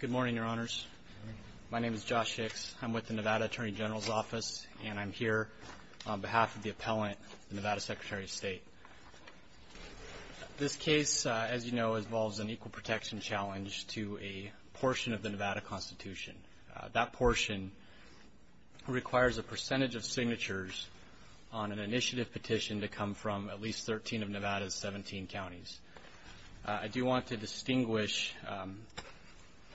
Good morning, your honors. My name is Josh Hicks. I'm with the Nevada Attorney General's Office, and I'm here on behalf of the appellant, the Nevada Secretary of State. This case, as you know, involves an equal protection challenge to a portion of the Nevada Constitution. That portion requires a percentage of signatures on an initiative petition to come from at least 13 of Nevada's 17 counties. I do want to distinguish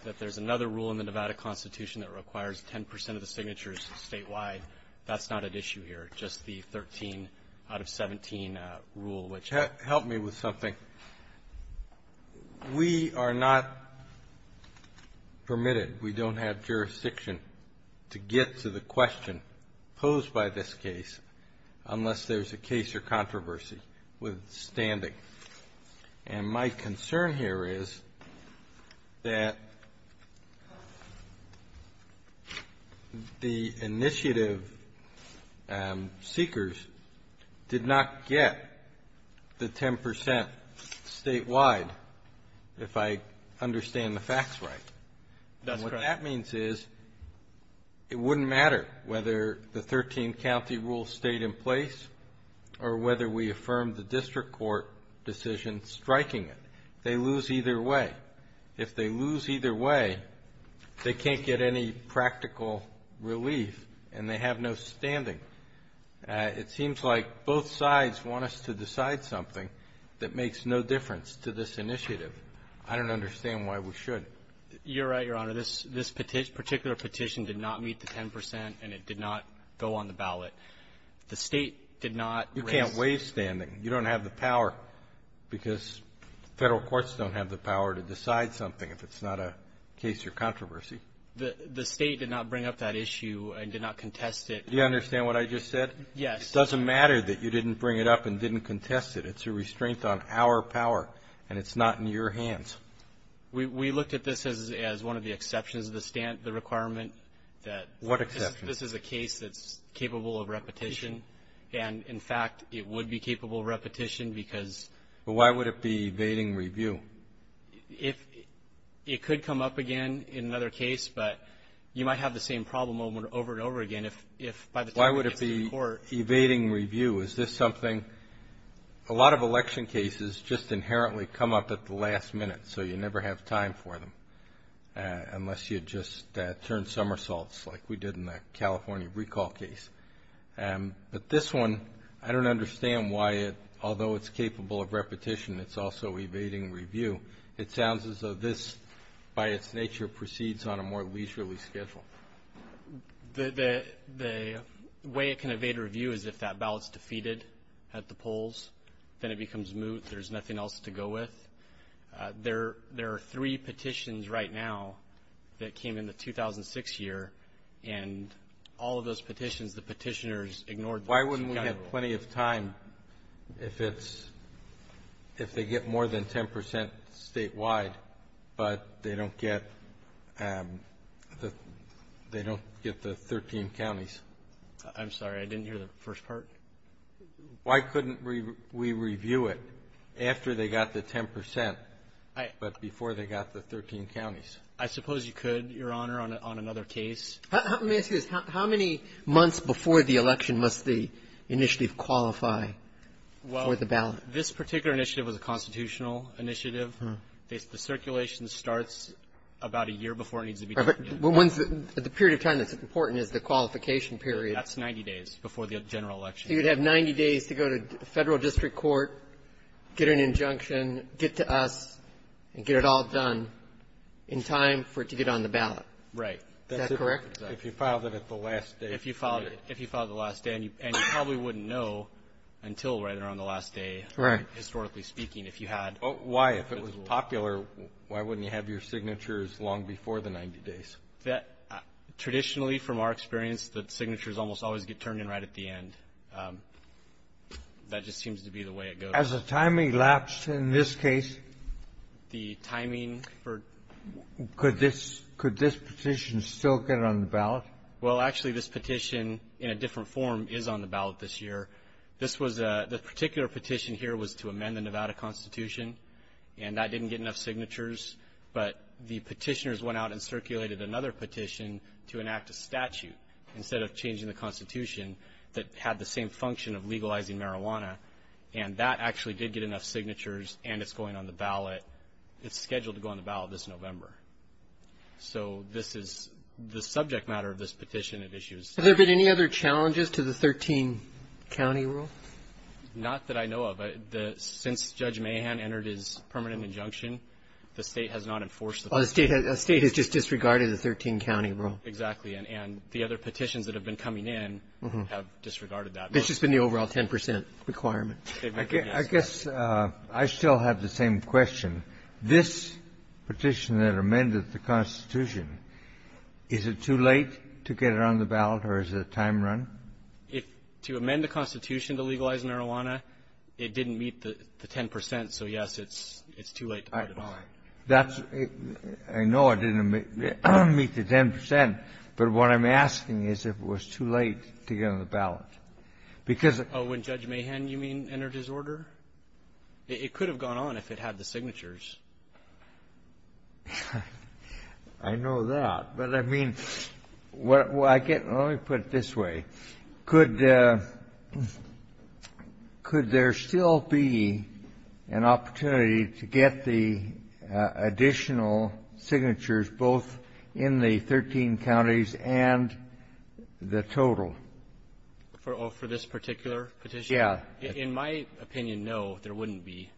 that there's another rule in the Nevada Constitution that requires 10 percent of the signatures statewide. That's not at issue here, just the 13 out of 17 rule, which — we are not permitted, we don't have jurisdiction to get to the question posed by this case unless there's a case or controversy withstanding. And my concern here is that the initiative seekers did not get the 10 percent statewide, if I understand the facts right. That's correct. And what that means is it wouldn't matter whether the 13-county rule stayed in place or whether we affirm the district court decision striking it. They lose either way. If they lose either way, they can't get any practical relief, and they have no standing. It seems like both sides want us to decide something that makes no difference to this initiative. I don't understand why we should. You're right, Your Honor. This particular petition did not meet the 10 percent, and it did not go on the ballot. The State did not raise — You can't waive standing. You don't have the power, because Federal courts don't have the power to decide something if it's not a case or controversy. The State did not bring up that issue and did not contest it. Do you understand what I just said? Yes. It doesn't matter that you didn't bring it up and didn't contest it. It's a restraint on our power, and it's not in your hands. We looked at this as one of the exceptions to the requirement that this is a case that's capable of repetition. And, in fact, it would be capable of repetition because — Why would it be evading review? It could come up again in another case, but you might have the same problem over and over again if, by the time it gets to the court. Why would it be evading review? Is this something — a lot of election cases just inherently come up at the last minute, so you never have time for them unless you just turn somersaults like we did in that California recall case. But this one, I don't understand why it, although it's capable of repetition, it's also evading review. It sounds as though this, by its nature, proceeds on a more leisurely schedule. The way it can evade review is if that ballot's defeated at the polls, then it becomes moot. There's nothing else to go with. There are three petitions right now that came in the 2006 year, and all of those petitions, the Petitioners ignored them. We have plenty of time if it's — if they get more than 10 percent statewide, but they don't get — they don't get the 13 counties. I'm sorry. I didn't hear the first part. Why couldn't we review it after they got the 10 percent, but before they got the 13 counties? I suppose you could, Your Honor, on another case. Let me ask you this. How many months before the election must they initially qualify for the ballot? Well, this particular initiative was a constitutional initiative. The circulation starts about a year before it needs to be done. The period of time that's important is the qualification period. That's 90 days before the general election. So you'd have 90 days to go to Federal district court, get an injunction, get to us, and get it all done in time for it to get on the ballot. Right. Is that correct? If you filed it at the last day. If you filed it — if you filed it the last day, and you probably wouldn't know until right around the last day. Right. Historically speaking, if you had — Why? If it was popular, why wouldn't you have your signatures long before the 90 days? Traditionally, from our experience, the signatures almost always get turned in right at the end. That just seems to be the way it goes. Has the timing lapsed in this case? The timing for — Could this — could this petition still get on the ballot? Well, actually, this petition, in a different form, is on the ballot this year. This was a — the particular petition here was to amend the Nevada Constitution, and that didn't get enough signatures. But the petitioners went out and circulated another petition to enact a statute, instead of changing the Constitution, that had the same function of legalizing marijuana. And that actually did get enough signatures, and it's going on the ballot. But it's scheduled to go on the ballot this November. So this is — the subject matter of this petition, it issues — Have there been any other challenges to the 13-county rule? Not that I know of. Since Judge Mahan entered his permanent injunction, the State has not enforced the — Oh, the State has just disregarded the 13-county rule. Exactly. And the other petitions that have been coming in have disregarded that. It's just been the overall 10 percent requirement. I guess I still have the same question. This petition that amended the Constitution, is it too late to get it on the ballot, or is it a time run? If — to amend the Constitution to legalize marijuana, it didn't meet the 10 percent. So, yes, it's too late to put it on. That's — I know it didn't meet the 10 percent, but what I'm asking is if it was too late to get it on the ballot. Because — Oh, when Judge Mahan, you mean, entered his order? It could have gone on if it had the signatures. I know that. But, I mean, what I get — let me put it this way. Could there still be an opportunity to get the additional signatures both in the 13 counties and the total? For this particular petition? Yeah. In my opinion, no, there wouldn't be.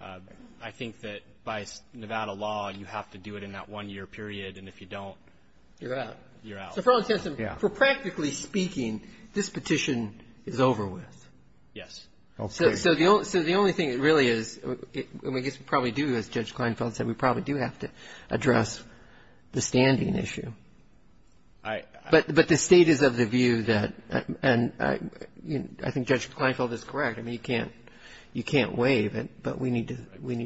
I think that by Nevada law, you have to do it in that one-year period. And if you don't — You're out. You're out. So, for all intents and — Yeah. For practically speaking, this petition is over with. Yes. So, the only thing that really is — I guess we probably do, as Judge Kleinfeld said, we probably do have to address the standing issue. I — But the state is of the view that — and I think Judge Kleinfeld is correct. I mean, you can't — you can't waive it. But we need to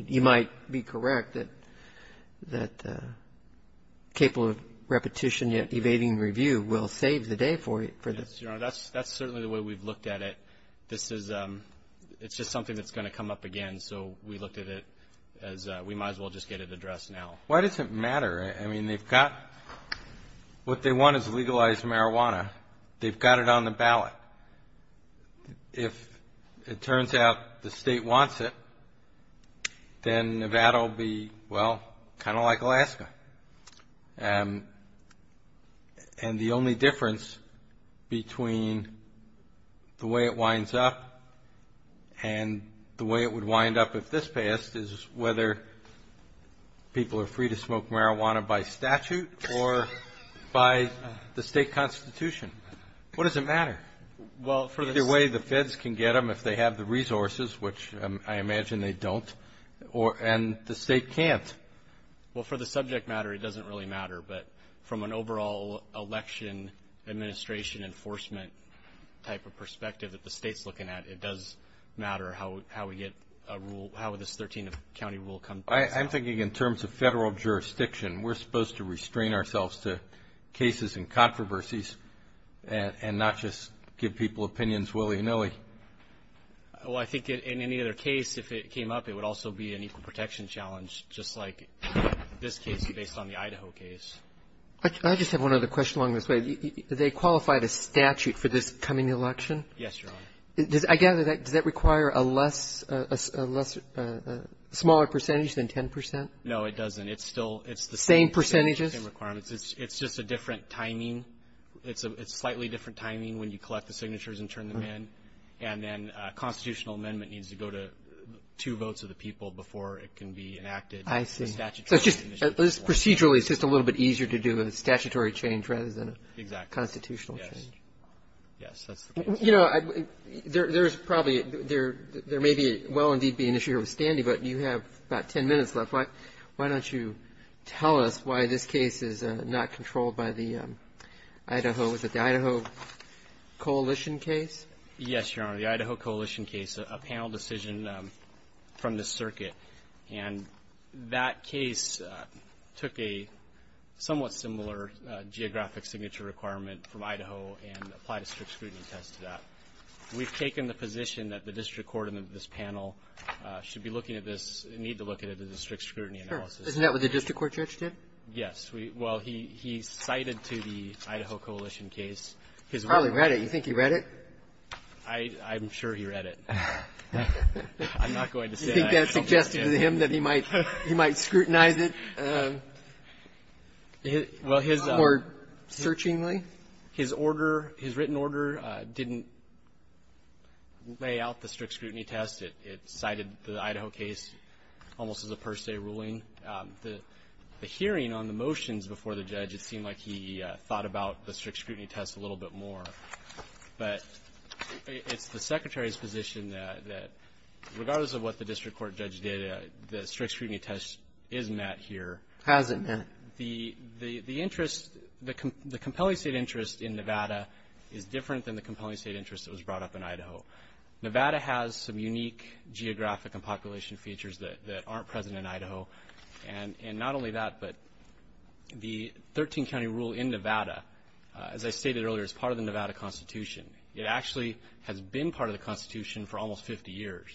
— you might be correct that capable of repetition yet evading review will save the day for the — Yes, Your Honor. That's certainly the way we've looked at it. This is — it's just something that's going to come up again. So, we looked at it as we might as well just get it addressed now. Why does it matter? I mean, they've got — what they want is legalized marijuana. They've got it on the ballot. If it turns out the state wants it, then Nevada will be, well, kind of like Alaska. And the only difference between the way it winds up and the way it would wind up if this passed is whether people are free to smoke marijuana by statute or by the state constitution. What does it matter? Well, for the — Is there a way the feds can get them if they have the resources, which I imagine they don't, and the state can't? Well, for the subject matter, it doesn't really matter. But from an overall election administration enforcement type of perspective that the state's looking at, it does matter how we get a rule — how this 13-county rule comes about. I'm thinking in terms of federal jurisdiction, we're supposed to restrain ourselves to cases and controversies and not just give people opinions willy-nilly. Well, I think in any other case, if it came up, it would also be an equal protection challenge, just like this case based on the Idaho case. I just have one other question along this way. Do they qualify the statute for this coming election? Yes, Your Honor. I gather that — does that require a less — a smaller percentage than 10 percent? No, it doesn't. It's still — Same percentages? Same requirements. It's just a different timing. It's a slightly different timing when you collect the signatures and turn them in. And then a constitutional amendment needs to go to two votes of the people before it can be enacted. I see. So it's just — procedurally, it's just a little bit easier to do a statutory change rather than a constitutional change. Exactly. Yes, that's the case. You know, there's probably — there may be — well, indeed, be an issue here with Standy, but you have about 10 minutes left. Why don't you tell us why this case is not controlled by the Idaho — is it the Idaho coalition case? Yes, Your Honor. The Idaho coalition case, a panel decision from the circuit. And that case took a somewhat similar geographic signature requirement from Idaho and applied a strict scrutiny test to that. We've taken the position that the district court in this panel should be looking at this and need to look at it as a strict scrutiny analysis. Sure. Isn't that what the district court judge did? Yes. Well, he cited to the Idaho coalition case. He probably read it. You think he read it? I'm sure he read it. I'm not going to say that. You think that suggested to him that he might scrutinize it more searchingly? His order, his written order, didn't lay out the strict scrutiny test. It cited the Idaho case almost as a per se ruling. The hearing on the motions before the judge, it seemed like he thought about the strict scrutiny test a little bit more. But it's the Secretary's position that regardless of what the district court judge did, the strict scrutiny test is met here. Has it met? The interest, the compelling state interest in Nevada is different than the compelling state interest that was brought up in Idaho. Nevada has some unique geographic and population features that aren't present in Idaho. And not only that, but the 13-county rule in Nevada, as I stated earlier, is part of the Nevada Constitution. It actually has been part of the Constitution for almost 50 years.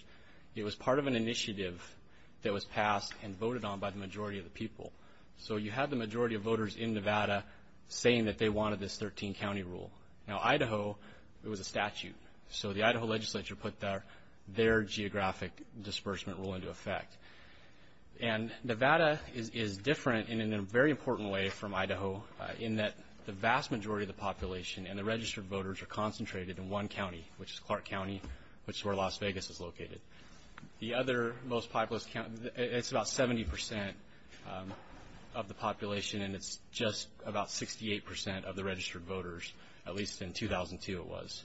It was part of an initiative that was passed and voted on by the majority of the people. So you had the majority of voters in Nevada saying that they wanted this 13-county rule. Now, Idaho, it was a statute. So the Idaho legislature put their geographic disbursement rule into effect. And Nevada is different in a very important way from Idaho in that the vast majority of the population and the registered voters are concentrated in one county, which is Clark County, which is where Las Vegas is located. The other most populous county, it's about 70% of the population, and it's just about 68% of the registered voters, at least in 2002 it was.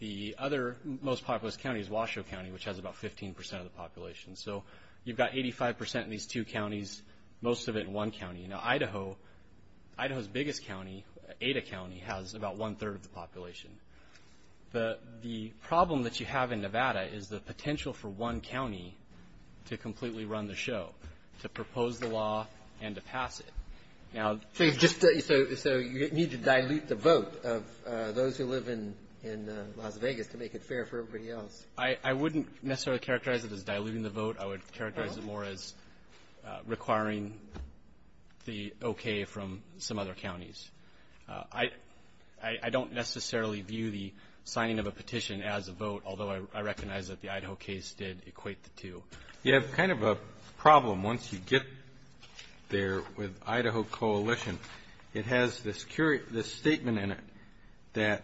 The other most populous county is Washoe County, which has about 15% of the population. So you've got 85% in these two counties, most of it in one county. Now, Idaho, Idaho's biggest county, Ada County, has about one-third of the population. The problem that you have in Nevada is the potential for one county to completely run the show, to propose the law and to pass it. Now — So you need to dilute the vote of those who live in Las Vegas to make it fair for everybody else. I wouldn't necessarily characterize it as diluting the vote. I would characterize it more as requiring the okay from some other counties. I don't necessarily view the signing of a petition as a vote, although I recognize that the Idaho case did equate the two. You have kind of a problem once you get there with Idaho Coalition. It has this statement in it that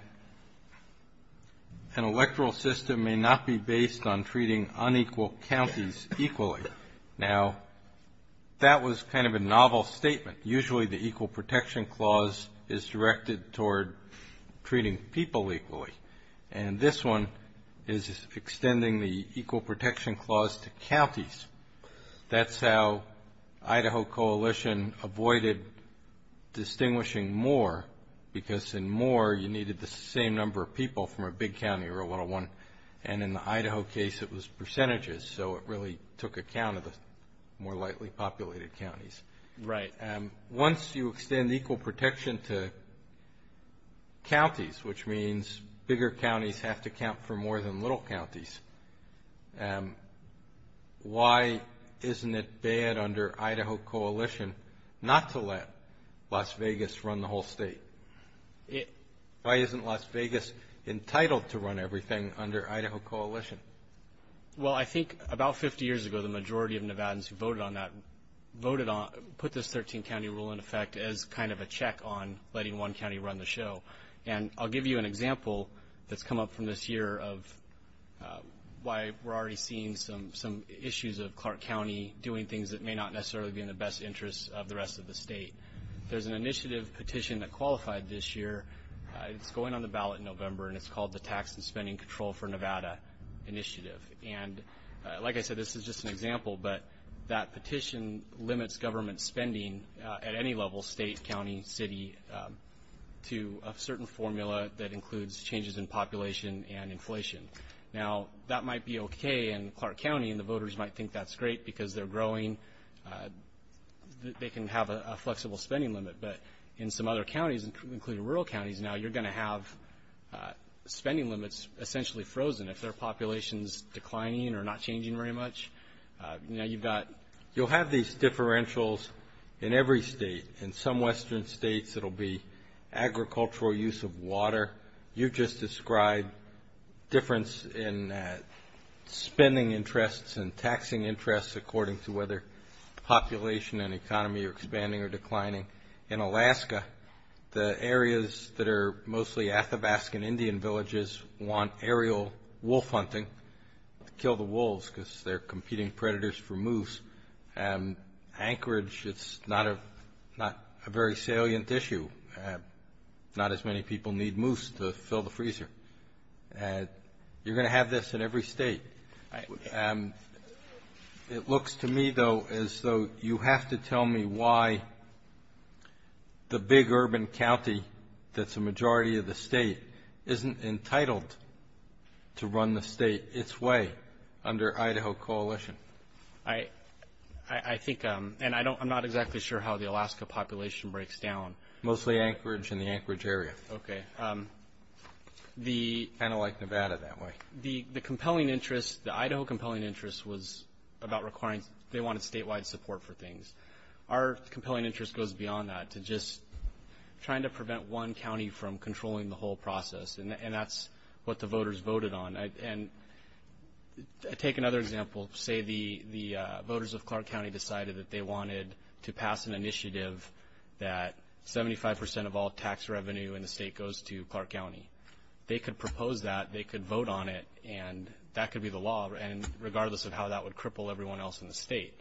an electoral system may not be based on treating unequal counties equally. Now, that was kind of a novel statement. Usually the Equal Protection Clause is directed toward treating people equally, and this one is extending the Equal Protection Clause to counties. That's how Idaho Coalition avoided distinguishing more, because in more you needed the same number of people from a big county or a little one, and in the Idaho case it was percentages, so it really took account of the more lightly populated counties. Right. Once you extend equal protection to counties, which means bigger counties have to count for more than little counties, why isn't it bad under Idaho Coalition not to let Las Vegas run the whole state? Why isn't Las Vegas entitled to run everything under Idaho Coalition? Well, I think about 50 years ago the majority of Nevadans who voted on that put this 13-county rule in effect as kind of a check on letting one county run the show, and I'll give you an example that's come up from this year of why we're already seeing some issues of Clark County doing things that may not necessarily be in the best interest of the rest of the state. There's an initiative petition that qualified this year. It's going on the ballot in November, and it's called the Tax and Spending Control for Nevada, initiative, and like I said, this is just an example, but that petition limits government spending at any level, state, county, city, to a certain formula that includes changes in population and inflation. Now, that might be okay in Clark County, and the voters might think that's great because they're growing. They can have a flexible spending limit, but in some other counties, including rural counties now, you're going to have spending limits essentially frozen if their population is declining or not changing very much. Now, you've got you'll have these differentials in every state. In some western states, it will be agricultural use of water. You just described difference in spending interests and taxing interests according to whether population and economy are expanding or declining. In Alaska, the areas that are mostly Athabascan Indian villages want aerial wolf hunting to kill the wolves because they're competing predators for moose. Anchorage, it's not a very salient issue. Not as many people need moose to fill the freezer. You're going to have this in every state. It looks to me, though, as though you have to tell me why the big urban county that's a majority of the state isn't entitled to run the state its way under Idaho coalition. I think, and I'm not exactly sure how the Alaska population breaks down. Mostly Anchorage and the Anchorage area. Okay. Kind of like Nevada that way. The compelling interest, the Idaho compelling interest was about requiring, they wanted statewide support for things. Our compelling interest goes beyond that to just trying to prevent one county from controlling the whole process, and that's what the voters voted on. And take another example. Say the voters of Clark County decided that they wanted to pass an initiative that 75% of all tax revenue in the state goes to Clark County. They could propose that, they could vote on it, and that could be the law, regardless of how that would cripple everyone else in the state.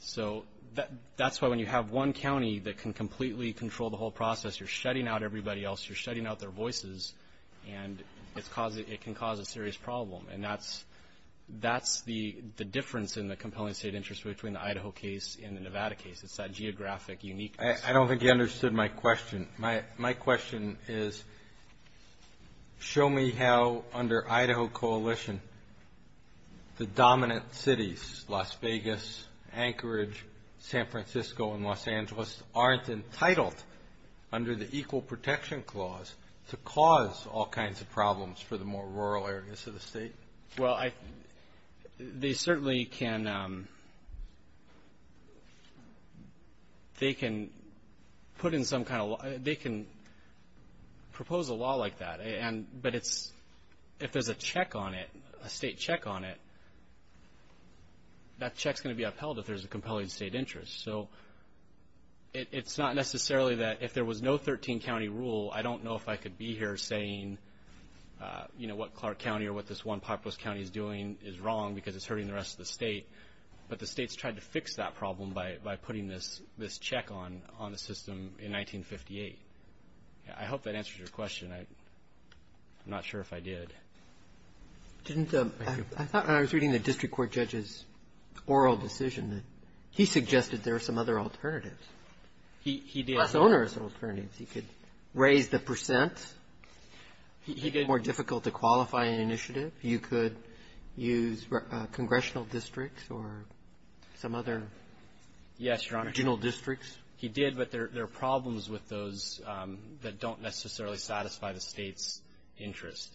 So that's why when you have one county that can completely control the whole process, you're shutting out everybody else, you're shutting out their voices, and it can cause a serious problem. And that's the difference in the compelling state interest between the Idaho case and the Nevada case. It's that geographic uniqueness. I don't think you understood my question. My question is, show me how, under Idaho coalition, the dominant cities, Las Vegas, Anchorage, San Francisco, and Los Angeles aren't entitled, under the Equal Protection Clause, to cause all kinds of problems for the more rural areas of the state. Well, they certainly can propose a law like that, but if there's a check on it, a state check on it, that check's going to be upheld if there's a compelling state interest. So it's not necessarily that if there was no 13-county rule, I don't know if I could be here saying what Clark County or what this one populous county is doing is wrong because it's hurting the rest of the state, but the state's tried to fix that problem by putting this check on the system in 1958. I hope that answers your question. I'm not sure if I did. I thought when I was reading the district court judge's oral decision that he suggested there were some other alternatives. He did. He could raise the percent. He did. It's more difficult to qualify an initiative. You could use congressional districts or some other regional districts. Yes, Your Honor. He did, but there are problems with those that don't necessarily satisfy the state's interest.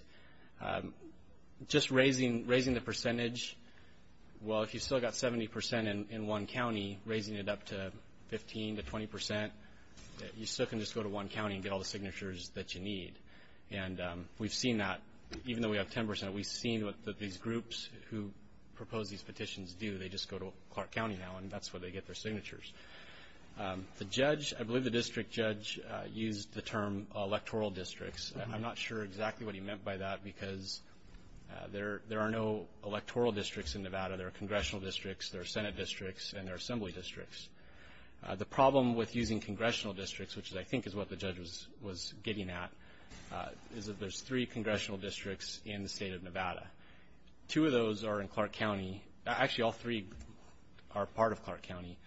Just raising the percentage, well, if you've still got 70 percent in one county, raising it up to 15 to 20 percent, you still can just go to one county and get all the signatures that you need. And we've seen that. Even though we have 10 percent, we've seen what these groups who propose these petitions do. They just go to Clark County now, and that's where they get their signatures. The judge, I believe the district judge, used the term electoral districts. I'm not sure exactly what he meant by that because there are no electoral districts in Nevada. There are congressional districts, there are Senate districts, and there are assembly districts. The problem with using congressional districts, which I think is what the judge was getting at, is that there's three congressional districts in the state of Nevada. Two of those are in Clark County. Actually, all three are part of Clark County.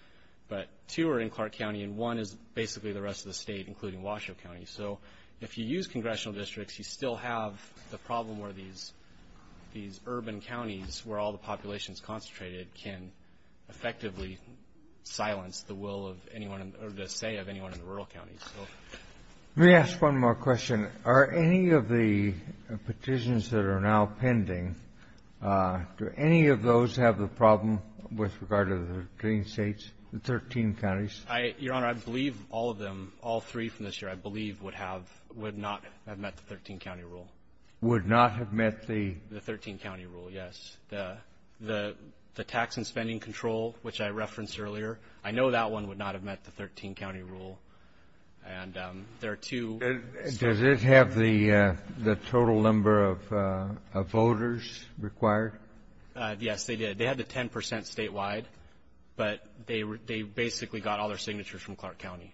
But two are in Clark County, and one is basically the rest of the state, including Washoe County. So if you use congressional districts, you still have the problem where these urban counties, where all the population is concentrated, can effectively silence the will of anyone or the say of anyone in the rural counties. Let me ask one more question. Are any of the petitions that are now pending, do any of those have the problem with regard to the green states, the 13 counties? Your Honor, I believe all of them, all three from this year. I believe would not have met the 13-county rule. Would not have met the? The 13-county rule, yes. The tax and spending control, which I referenced earlier, I know that one would not have met the 13-county rule. And there are two states. Does it have the total number of voters required? Yes, they did. They had the 10 percent statewide, but they basically got all their signatures from Clark County.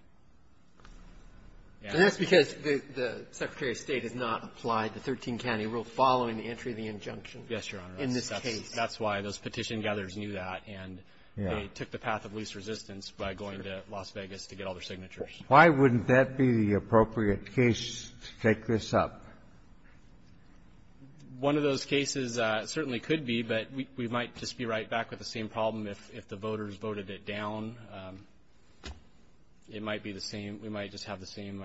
And that's because the Secretary of State has not applied the 13-county rule following the entry of the injunction. Yes, Your Honor. In this case. That's why those petition gatherers knew that. And they took the path of least resistance by going to Las Vegas to get all their signatures. Why wouldn't that be the appropriate case to take this up? One of those cases certainly could be, but we might just be right back with the same problem if the voters voted it down. It might be the same. We might just have the same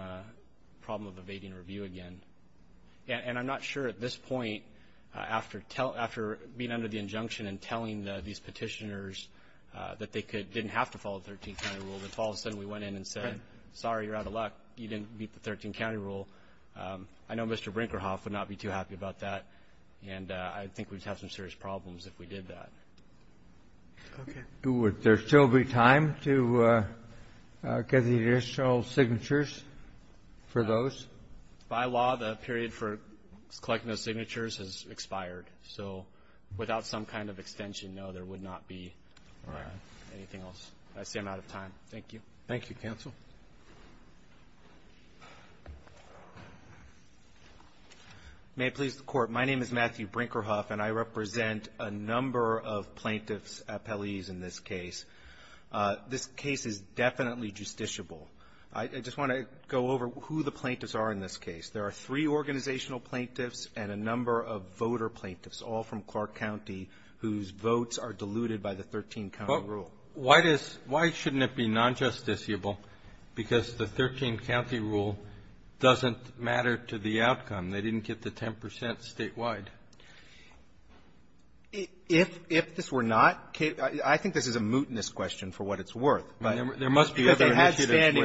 problem of evading review again. And I'm not sure at this point, after being under the injunction and telling these petitioners that they didn't have to follow the 13-county rule, if all of a sudden we went in and said, sorry, you're out of luck, you didn't meet the 13-county rule. I know Mr. Brinkerhoff would not be too happy about that. And I think we'd have some serious problems if we did that. Okay. Would there still be time to get the initial signatures for those? By law, the period for collecting those signatures has expired. So without some kind of extension, no, there would not be anything else. I see I'm out of time. Thank you. Thank you, counsel. May it please the Court. My name is Matthew Brinkerhoff, and I represent a number of plaintiffs' appellees in this case. This case is definitely justiciable. I just want to go over who the plaintiffs are in this case. There are three organizational plaintiffs and a number of voter plaintiffs, all from Clark County, whose votes are diluted by the 13-county rule. So why does why shouldn't it be nonjusticiable? Because the 13-county rule doesn't matter to the outcome. They didn't get the 10 percent statewide. If this were not, I think this is a mootness question for what it's worth. There must be other initiatives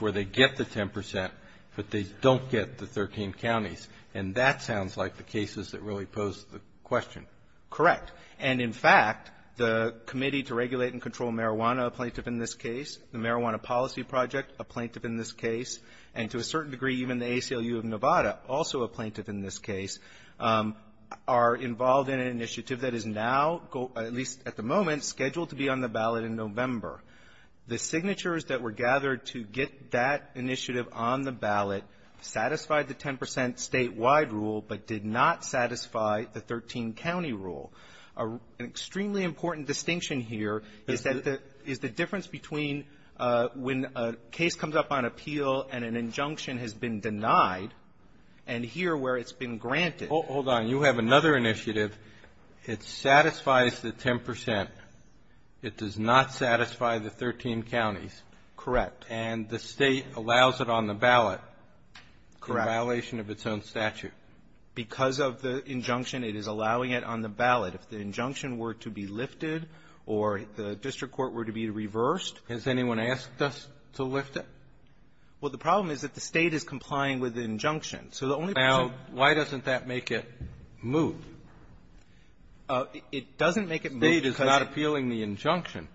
where they get the 10 percent, but they don't get the 13 counties, and that sounds like the cases that really pose the question. Correct. And, in fact, the Committee to Regulate and Control Marijuana, a plaintiff in this case, the Marijuana Policy Project, a plaintiff in this case, and to a certain degree even the ACLU of Nevada, also a plaintiff in this case, are involved in an initiative that is now, at least at the moment, scheduled to be on the ballot in November. The signatures that were gathered to get that initiative on the ballot satisfied the 10 percent statewide rule, but did not satisfy the 13-county rule. An extremely important distinction here is that the difference between when a case comes up on appeal and an injunction has been denied and here where it's been granted. Hold on. You have another initiative. It satisfies the 10 percent. It does not satisfy the 13 counties. Correct. And the State allows it on the ballot in violation of its own statute. Correct. Because of the injunction, it is allowing it on the ballot. If the injunction were to be lifted or the district court were to be reversed Has anyone asked us to lift it? Well, the problem is that the State is complying with the injunction. So the only person Now, why doesn't that make it move? It doesn't make it move because appealing the injunction.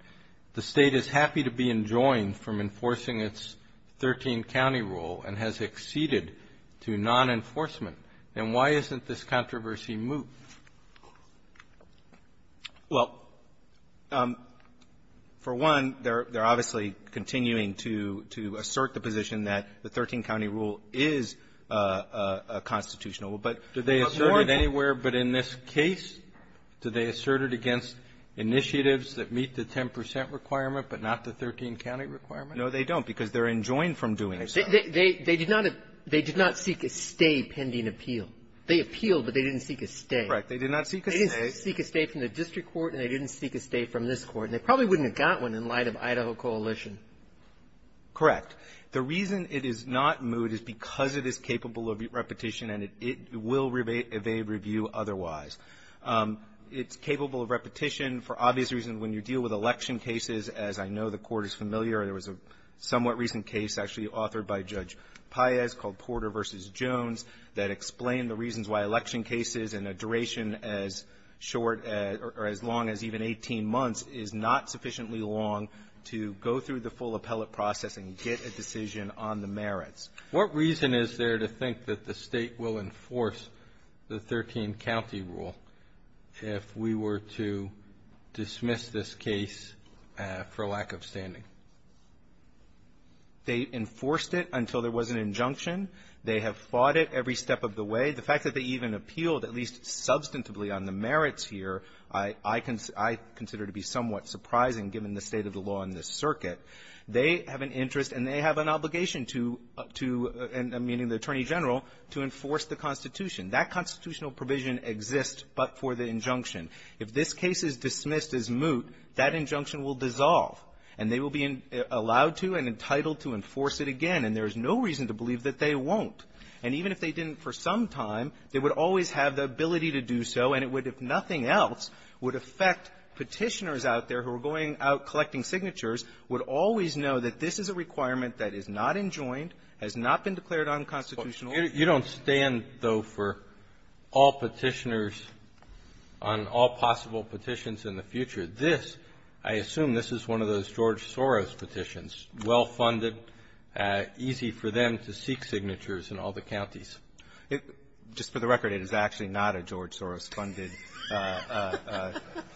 The State is happy to be enjoined from enforcing its 13-county rule and has acceded to non-enforcement. And why isn't this controversy moved? Well, for one, they're obviously continuing to assert the position that the 13-county rule is a constitutional rule. But do they assert it anywhere but in this case? Do they assert it against initiatives that meet the 10 percent requirement but not the 13-county requirement? No, they don't, because they're enjoined from doing so. They did not seek a stay pending appeal. They appealed, but they didn't seek a stay. Correct. They did not seek a stay. They didn't seek a stay from the district court, and they didn't seek a stay from this court. And they probably wouldn't have got one in light of Idaho Coalition. Correct. The reason it is not moved is because it is capable of repetition, and it will evade review otherwise. It's capable of repetition for obvious reasons. When you deal with election cases, as I know the Court is familiar, there was a somewhat recent case actually authored by Judge Paez called Porter v. Jones that explained the reasons why election cases in a duration as short or as long as even 18 months is not sufficiently long to go through the full appellate process and get a decision on the merits. What reason is there to think that the State will enforce the 13-county rule if we were to dismiss this case for lack of standing? They enforced it until there was an injunction. They have fought it every step of the way. The fact that they even appealed, at least substantively, on the merits here, I consider to be somewhat surprising given the state of the law in this circuit. They have an interest and they have an obligation to, meaning the Attorney General, to enforce the Constitution. That constitutional provision exists but for the injunction. If this case is dismissed as moot, that injunction will dissolve. And they will be allowed to and entitled to enforce it again. And there is no reason to believe that they won't. And even if they didn't for some time, they would always have the ability to do so. And it would, if nothing else, would affect Petitioners out there who are going out collecting signatures, would always know that this is a requirement that is not enjoined, has not been declared unconstitutional. Kennedy, you don't stand, though, for all Petitioners on all possible petitions in the future. This, I assume this is one of those George Soros petitions, well-funded, easy for them to seek signatures in all the counties. It's just for the record, it is actually not a George Soros-funded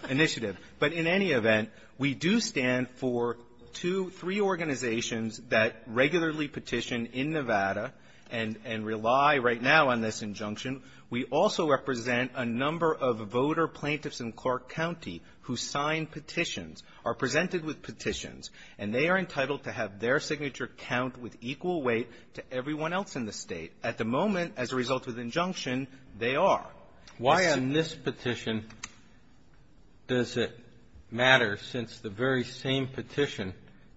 initiative. But in any event, we do stand for two, three organizations that regularly petition in Nevada and rely right now on this injunction. We also represent a number of voter plaintiffs in Clark County who sign petitions, are presented with petitions, and they are entitled to have their signature count with equal weight to everyone else in the State. At the moment, as a result of the injunction, they are. Why on this petition does it matter, since the very same petition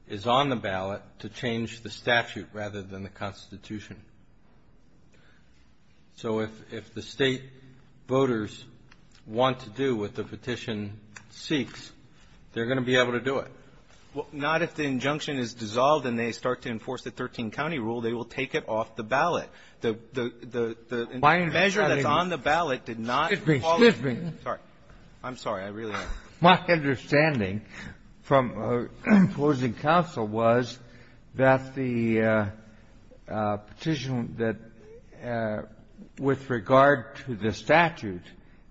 is on the ballot, to change the statute rather than the Constitution? So if the State voters want to do what the petition seeks, they're going to be able to do it. Well, not if the injunction is dissolved and they start to enforce the 13-county rule. They will take it off the ballot. The measure that's on the ballot did not follow. Excuse me. Sorry. I'm sorry. I really am. My understanding from opposing counsel was that the petition that, with regard to the statute,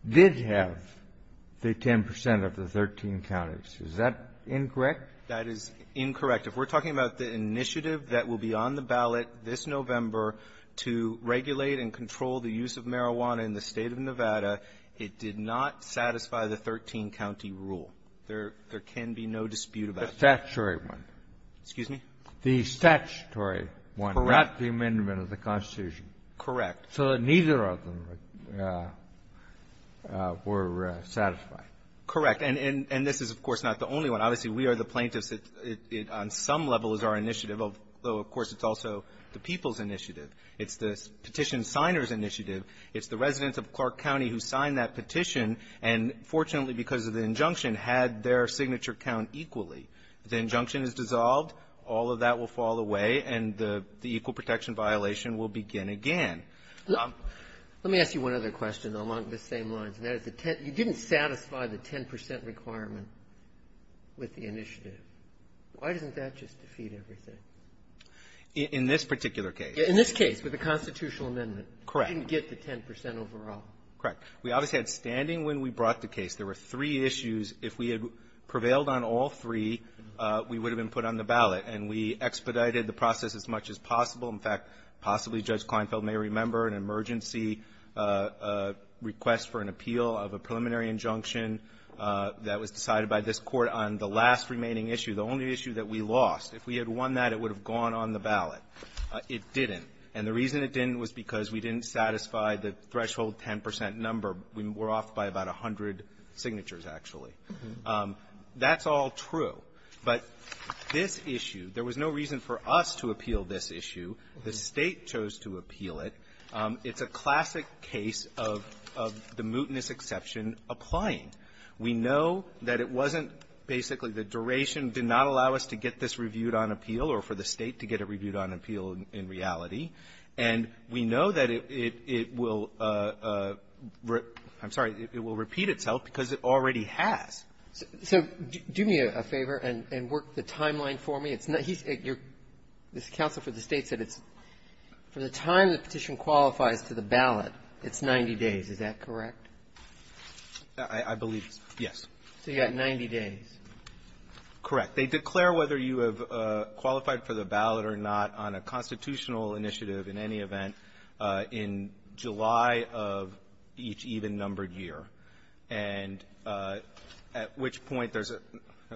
did have the 10 percent of the 13 counties. Is that incorrect? That is incorrect. If we're talking about the initiative that will be on the ballot this November to regulate and control the use of marijuana in the State of Nevada, it did not satisfy the 13-county rule. There can be no dispute about that. The statutory one. Excuse me? The statutory one, not the amendment of the Constitution. Correct. So neither of them were satisfied. Correct. And this is, of course, not the only one. Obviously, we are the plaintiffs. It, on some level, is our initiative, although, of course, it's also the people's initiative. It's the petition signers' initiative. It's the residents of Clark County who signed that petition, and fortunately, because of the injunction, had their signature count equally. If the injunction is dissolved, all of that will fall away, and the equal protection violation will begin again. Let me ask you one other question, though, along the same lines. You didn't satisfy the 10 percent requirement with the initiative. Why doesn't that just defeat everything? In this particular case. In this case, with the constitutional amendment. Correct. You didn't get the 10 percent overall. Correct. We obviously had standing when we brought the case. There were three issues. If we had prevailed on all three, we would have been put on the ballot, and we expedited the process as much as possible. In fact, possibly Judge Kleinfeld may remember an emergency request for an appeal of a preliminary injunction that was decided by this Court on the last remaining issue, the only issue that we lost. If we had won that, it would have gone on the ballot. It didn't. And the reason it didn't was because we didn't satisfy the threshold 10 percent number. We're off by about 100 signatures, actually. That's all true. But this issue, there was no reason for us to appeal this issue. The State chose to appeal it. It's a classic case of the mootness exception applying. We know that it wasn't basically the duration did not allow us to get this reviewed on appeal or for the State to get it reviewed on appeal in reality. And we know that it will repeat itself because it already has. So do me a favor and work the timeline for me. It's not he's at your this counsel for the States that it's for the time the petition qualifies to the ballot, it's 90 days. Is that correct? I believe, yes. So you got 90 days. Correct. They declare whether you have qualified for the ballot or not on a constitutional initiative in any event in July of each even-numbered year. And at which point there's a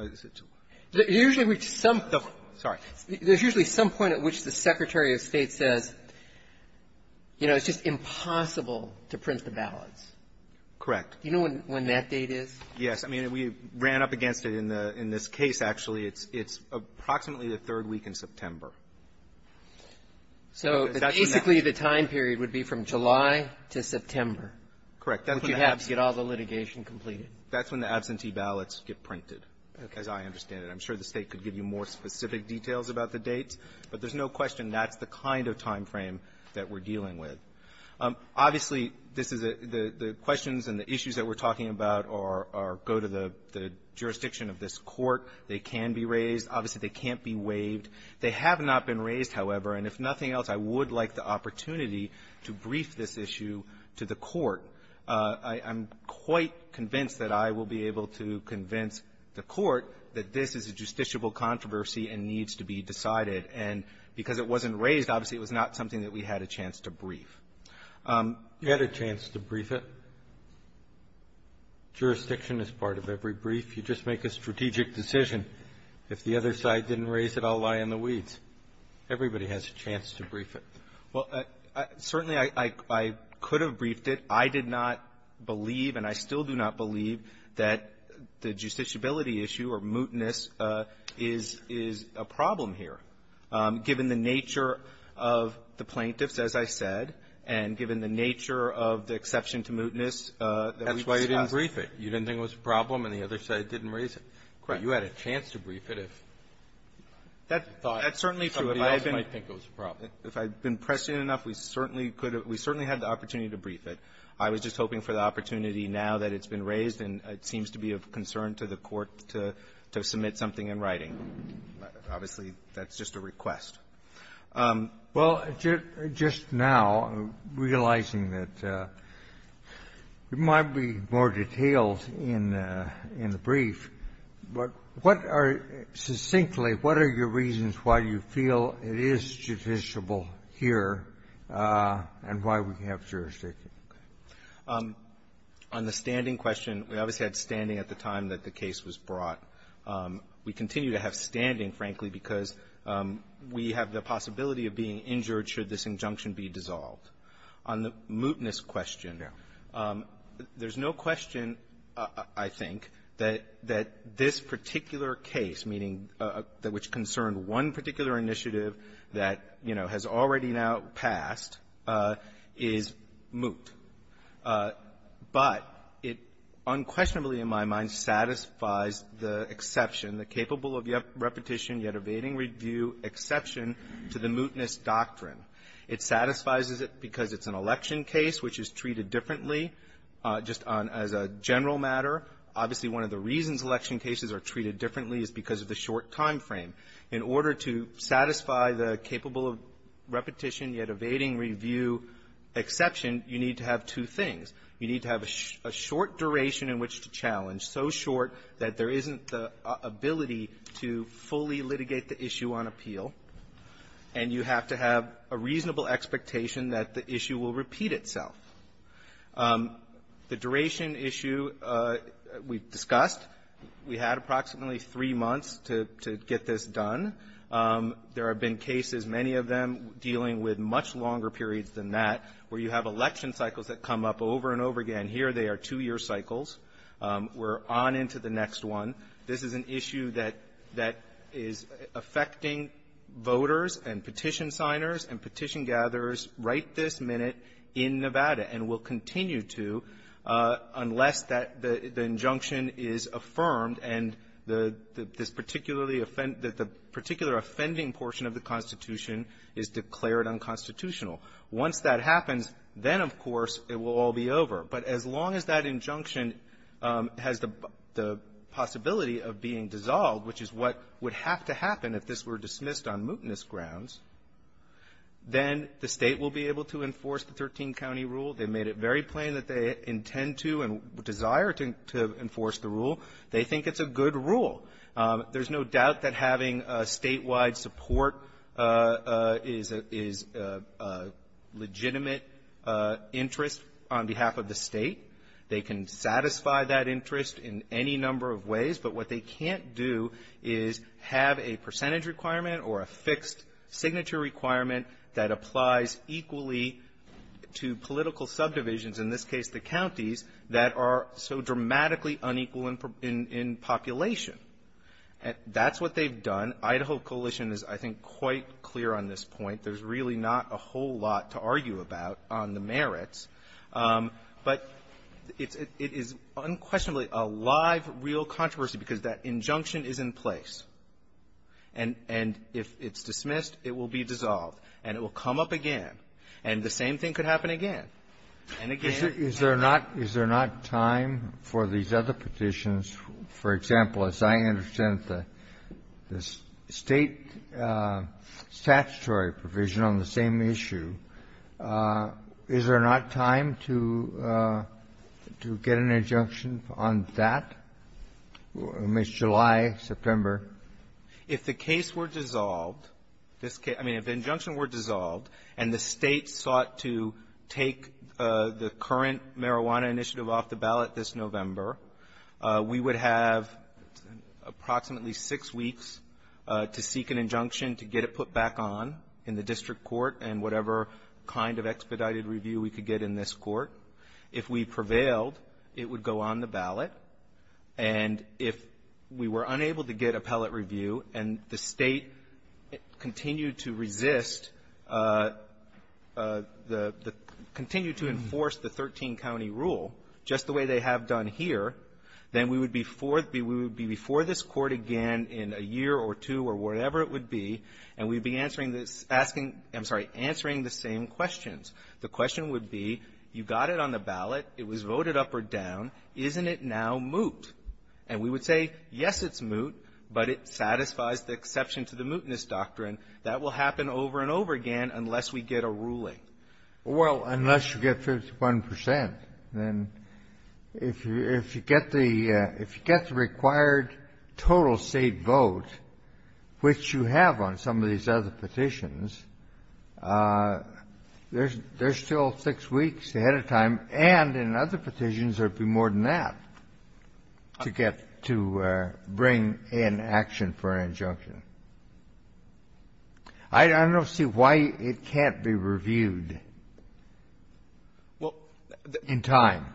– Usually, which some – Sorry. There's usually some point at which the Secretary of State says, you know, it's just impossible to print the ballots. Correct. Do you know when that date is? Yes. I mean, we ran up against it in the – in this case, actually. It's approximately the third week in September. So basically, the time period would be from July to September. Correct. You have to get all the litigation completed. That's when the absentee ballots get printed, as I understand it. I'm sure the State could give you more specific details about the dates. But there's no question that's the kind of time frame that we're dealing with. Obviously, this is a – the questions and the issues that we're talking about are – go to the jurisdiction of this Court. They can be raised. Obviously, they can't be waived. They have not been raised, however. And if nothing else, I would like the opportunity to brief this issue to the Court I'm quite convinced that I will be able to convince the Court that this is a justiciable controversy and needs to be decided. And because it wasn't raised, obviously, it was not something that we had a chance to brief. You had a chance to brief it. Jurisdiction is part of every brief. You just make a strategic decision. If the other side didn't raise it, I'll lie in the weeds. Everybody has a chance to brief it. Well, certainly, I could have briefed it. I did not believe, and I still do not believe, that the justiciability issue or mootness is – is a problem here, given the nature of the plaintiffs, as I said, and given the nature of the exception to mootness that we've discussed. That's why you didn't brief it. You didn't think it was a problem, and the other side didn't raise it. Correct. But you had a chance to brief it if you thought somebody else might think it was a problem. If I'd been prescient enough, we certainly could have – we certainly had the opportunity to brief it. I was just hoping for the opportunity now that it's been raised, and it seems to be of concern to the Court to – to submit something in writing. Obviously, that's just a request. Well, just now, realizing that there might be more details in the brief, but what are – succinctly, what are your reasons why you feel it is judiciable here and why we have jurisdiction? Okay. On the standing question, we obviously had standing at the time that the case was brought. We continue to have standing, frankly, because we have the possibility of being injured should this injunction be dissolved. On the mootness question, there's no question, I think, that – that this particular case, meaning which concerned one particular initiative that, you know, has already now passed, is moot. But it unquestionably, in my mind, satisfies the exception, the capable-of-repetition- yet-evading-review exception to the mootness doctrine. It satisfies it because it's an election case which is treated differently, just on – as a general matter. Obviously, one of the reasons election cases are treated differently is because of the short time frame. In order to satisfy the capable-of-repetition-yet-evading-review exception, you need to have two things. You need to have a short duration in which to challenge, so short that there isn't the ability to fully litigate the issue on appeal. And you have to have a reasonable expectation that the issue will repeat itself. The duration issue we've discussed. We had approximately three months to get this done. There have been cases, many of them dealing with much longer periods than that, where you have election cycles that come up over and over again. Here, they are two-year cycles. We're on into the next one. This is an issue that is affecting voters and petition signers and petition gatherers right this minute in Nevada, and will continue to unless that – the injunction is affirmed and this particularly – the particular offending portion of the Constitution is declared unconstitutional. Once that happens, then, of course, it will all be over. But as long as that injunction has the possibility of being dissolved, which is what would have to happen if this were dismissed on mootness grounds, then the State will be able to enforce the 13-county rule. They made it very plain that they intend to and desire to enforce the rule. They think it's a good rule. There's no doubt that having statewide support is a legitimate interest on behalf of the State. They can satisfy that interest in any number of ways. But what they can't do is have a percentage requirement or a fixed signature requirement that applies equally to political subdivisions, in this case the counties, that are so dramatically unequal in population. That's what they've done. Idaho Coalition is, I think, quite clear on this point. There's really not a whole lot to argue about on the merits. But it is unquestionably a live, real controversy because that injunction is in place. And if it's dismissed, it will be dissolved. And it will come up again. And the same thing could happen again and again. Kennedy, is there not time for these other petitions? For example, as I understand it, the State statutory provision on the same issue, is there not time to get an injunction on that? I mean, it's July, September. If the case were dissolved, this case – I mean, if the injunction were dissolved and the State sought to take the current marijuana initiative off the ballot this November, we would have approximately six weeks to seek an injunction to get it put back on in the district court and whatever kind of expedited review we could get in this court. If we prevailed, it would go on the ballot. And if we were unable to get appellate review and the State continued to resist the – continued to enforce the 13-county rule just the way they have done here, then we would be before – we would be before this Court again in a year or two or whatever it would be, and we'd be answering this – asking – I'm sorry, answering the same questions. The question would be, you got it on the ballot. It was voted up or down. Isn't it now moot? And we would say, yes, it's moot, but it satisfies the exception to the mootness doctrine. That will happen over and over again unless we get a ruling. Kennedy. Well, unless you get 51 percent, then if you get the – if you get the required total State vote, which you have on some of these other petitions, there's still six weeks ahead of time. And in other petitions, there would be more than that to get – to bring in action for an injunction. I don't see why it can't be reviewed in time.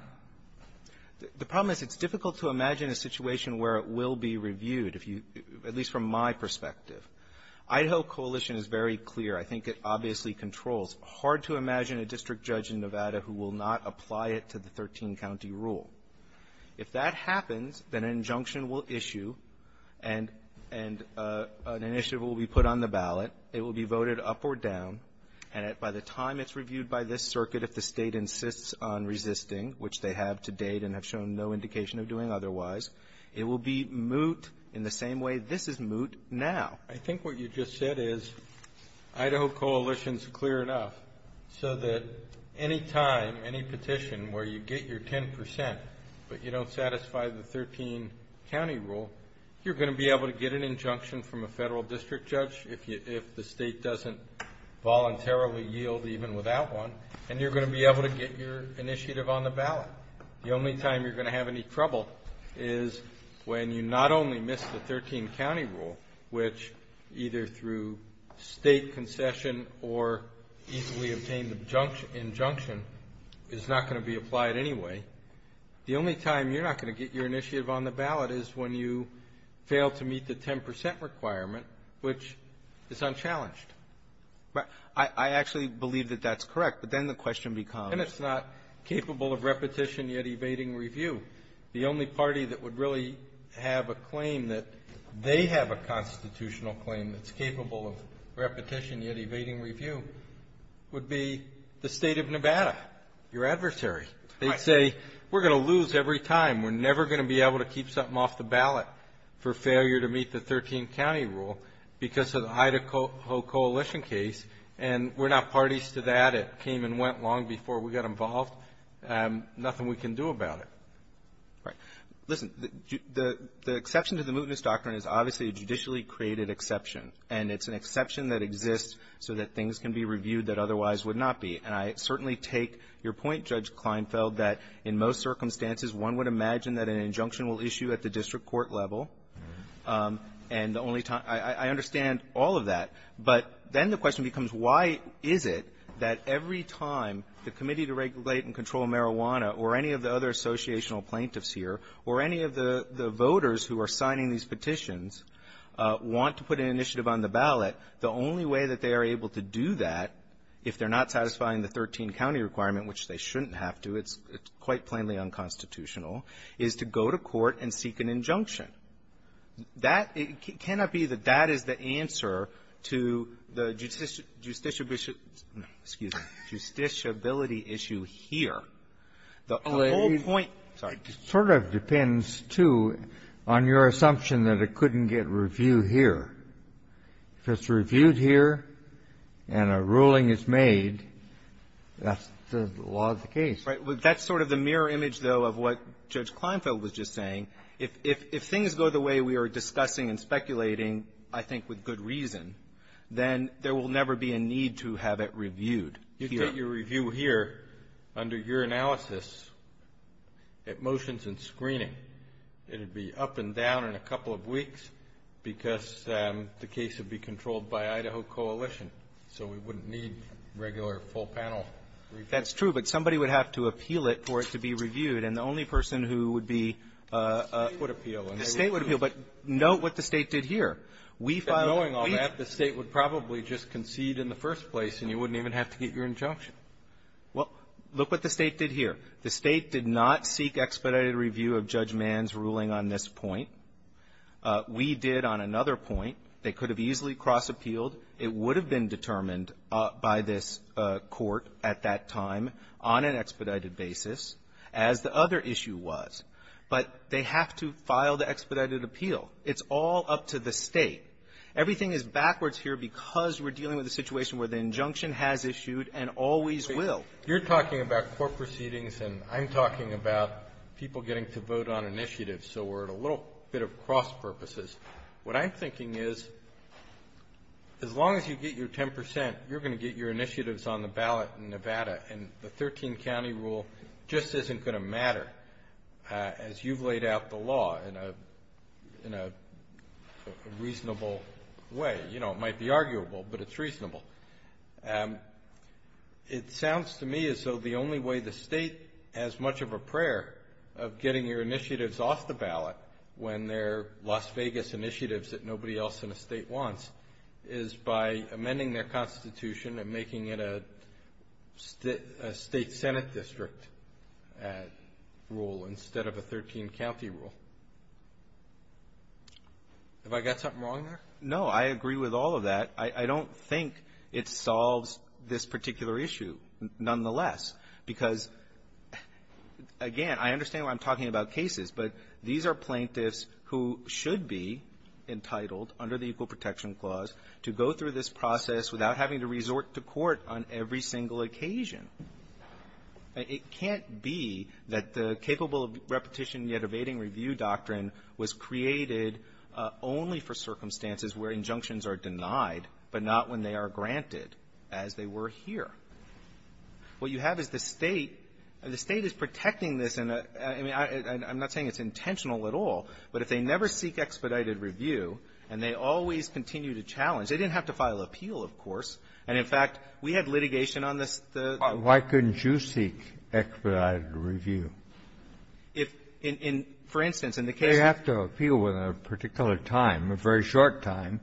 The problem is it's difficult to imagine a situation where it will be reviewed, if you – at least from my perspective. Idaho coalition is very clear. I think it obviously controls. Hard to imagine a district judge in Nevada who will not apply it to the 13-county rule. If that happens, then an injunction will issue, and an initiative will be put on the ballot. It will be voted up or down, and by the time it's reviewed by this circuit, if the they have to date and have shown no indication of doing otherwise, it will be moot in the same way this is moot now. I think what you just said is Idaho coalition is clear enough so that any time, any petition where you get your 10 percent, but you don't satisfy the 13-county rule, you're going to be able to get an injunction from a federal district judge if the State doesn't voluntarily yield even without one, and you're going to be able to get your initiative on the ballot. The only time you're going to have any trouble is when you not only miss the 13- county rule, which either through State concession or easily obtained injunction is not going to be applied anyway. The only time you're not going to get your initiative on the ballot is when you fail to meet the 10 percent requirement, which is unchallenged. I actually believe that that's correct, but then the question becomes — And it's not capable of repetition yet evading review. The only party that would really have a claim that they have a constitutional claim that's capable of repetition yet evading review would be the State of Nevada, your adversary. They say, we're going to lose every time. We're never going to be able to keep something off the ballot for failure to meet the 13-county rule because of the Idaho coalition case. And we're not parties to that. It came and went long before we got involved. Nothing we can do about it. Right. Listen, the exception to the mootness doctrine is obviously a judicially created exception, and it's an exception that exists so that things can be reviewed that otherwise would not be. And I certainly take your point, Judge Kleinfeld, that in most circumstances, one would imagine that an injunction will issue at the district court level, and the only time — I understand all of that. But then the question becomes, why is it that every time the Committee to Regulate and Control Marijuana or any of the other associational plaintiffs here or any of the voters who are signing these petitions want to put an initiative on the ballot, the only way that they are able to do that, if they're not satisfying the 13-county requirement, which they shouldn't have to, it's quite plainly unconstitutional, is to go to court and seek an injunction. That cannot be that that is the answer to the justiciability issue here. The whole point — It sort of depends, too, on your assumption that it couldn't get reviewed here. If it's reviewed here and a ruling is made, that's the law of the case. Right. That's sort of the mirror image, though, of what Judge Kleinfeld was just saying. If things go the way we are discussing and speculating, I think with good reason, then there will never be a need to have it reviewed here. You could get your review here under your analysis at motions and screening. It would be up and down in a couple of weeks because the case would be controlled by Idaho Coalition. So we wouldn't need regular full panel review. That's true. But somebody would have to appeal it for it to be reviewed. And the only person who would be — The State would appeal. The State would appeal. But note what the State did here. We filed — And knowing all that, the State would probably just concede in the first place, and you wouldn't even have to get your injunction. Well, look what the State did here. The State did not seek expedited review of Judge Mann's ruling on this point. We did on another point. They could have easily cross-appealed. It would have been determined by this Court at that time on an expedited basis, as the other issue was. But they have to file the expedited appeal. It's all up to the State. Everything is backwards here because we're dealing with a situation where the injunction has issued and always will. You're talking about court proceedings, and I'm talking about people getting to vote on initiatives. So we're at a little bit of cross-purposes. What I'm thinking is, as long as you get your 10 percent, you're going to get your initiatives on the ballot in Nevada. And the 13-county rule just isn't going to matter, as you've laid out the law in a reasonable way. You know, it might be arguable, but it's reasonable. It sounds to me as though the only way the State has much of a prayer of getting your initiatives off the ballot when they're Las Vegas initiatives that nobody else in the State wants is by amending their Constitution and making it a State Senate district rule instead of a 13-county rule. Have I got something wrong there? No, I agree with all of that. I don't think it solves this particular issue, nonetheless, because, again, I understand why I'm talking about cases, but these are plaintiffs who should be entitled under the Equal Protection Clause to go through this process without having to resort to court on every single occasion. It can't be that the capable of repetition, yet evading review doctrine was created only for circumstances where injunctions are denied, but not when they are granted, as they were here. What you have is the State. The State is protecting this in a — I mean, I'm not saying it's intentional at all, but if they never seek expedited review and they always continue to challenge — they didn't have to file appeal, of course, and, in fact, we had litigation on this, the — Why couldn't you seek expedited review? If, in — for instance, in the case — They have to appeal within a particular time, a very short time,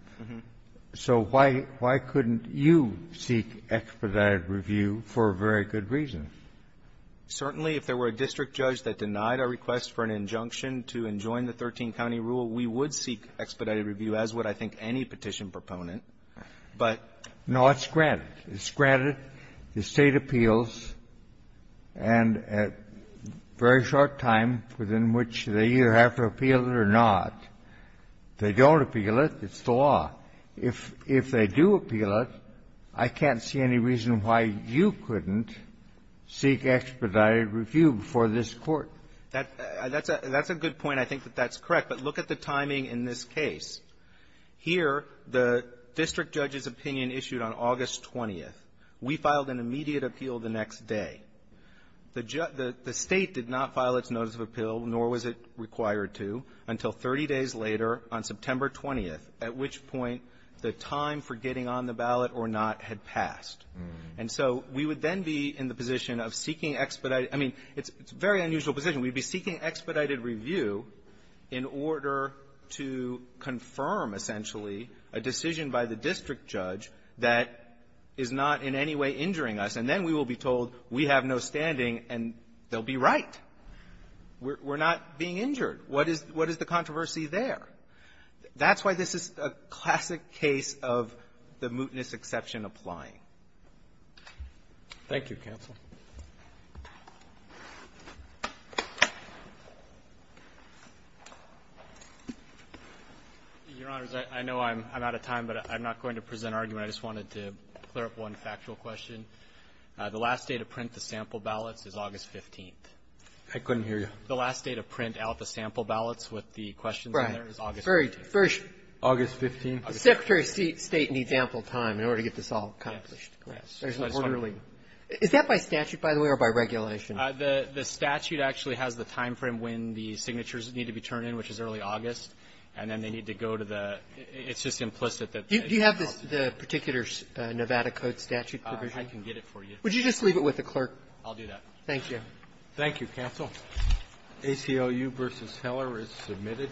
so why — why couldn't you seek expedited review for a very good reason? Certainly, if there were a district judge that denied our request for an injunction to enjoin the 13-county rule, we would seek expedited review, as would, I think, any petition proponent, but — No, it's granted. It's granted. The State appeals, and at a very short time within which they either have to appeal it or not. If they don't appeal it, it's the law. If — if they do appeal it, I can't see any reason why you couldn't seek expedited review before this Court. That's a — that's a good point. I think that that's correct. But look at the timing in this case. Here, the district judge's opinion issued on August 20th. We filed an immediate appeal the next day. The state did not file its notice of appeal, nor was it required to, until 30 days later on September 20th, at which point the time for getting on the ballot or not had passed. And so we would then be in the position of seeking expedited — I mean, it's a very unusual position. We'd be seeking expedited review in order to confirm, essentially, a decision by the district judge that is not in any way injuring us, and then we will be told we have no standing and they'll be right. We're not being injured. What is — what is the controversy there? That's why this is a classic case of the mootness exception applying. Roberts. Thank you, counsel. Your Honors, I know I'm out of time, but I'm not going to present argument. I just wanted to clear up one factual question. The last day to print the sample ballots is August 15th. I couldn't hear you. The last day to print out the sample ballots with the questions in there is August 15th. Right. First — August 15th. The Secretary of State needs ample time in order to get this all accomplished. Yes. There's an orderly — is that by statute, by the way, or by regulation? The statute actually has the time frame when the signatures need to be turned in, which is early August, and then they need to go to the — it's just implicit that — Do you have the particular Nevada Code statute provision? I can get it for you. Would you just leave it with the clerk? I'll do that. Thank you. Thank you, counsel. ACLU v. Heller is submitted.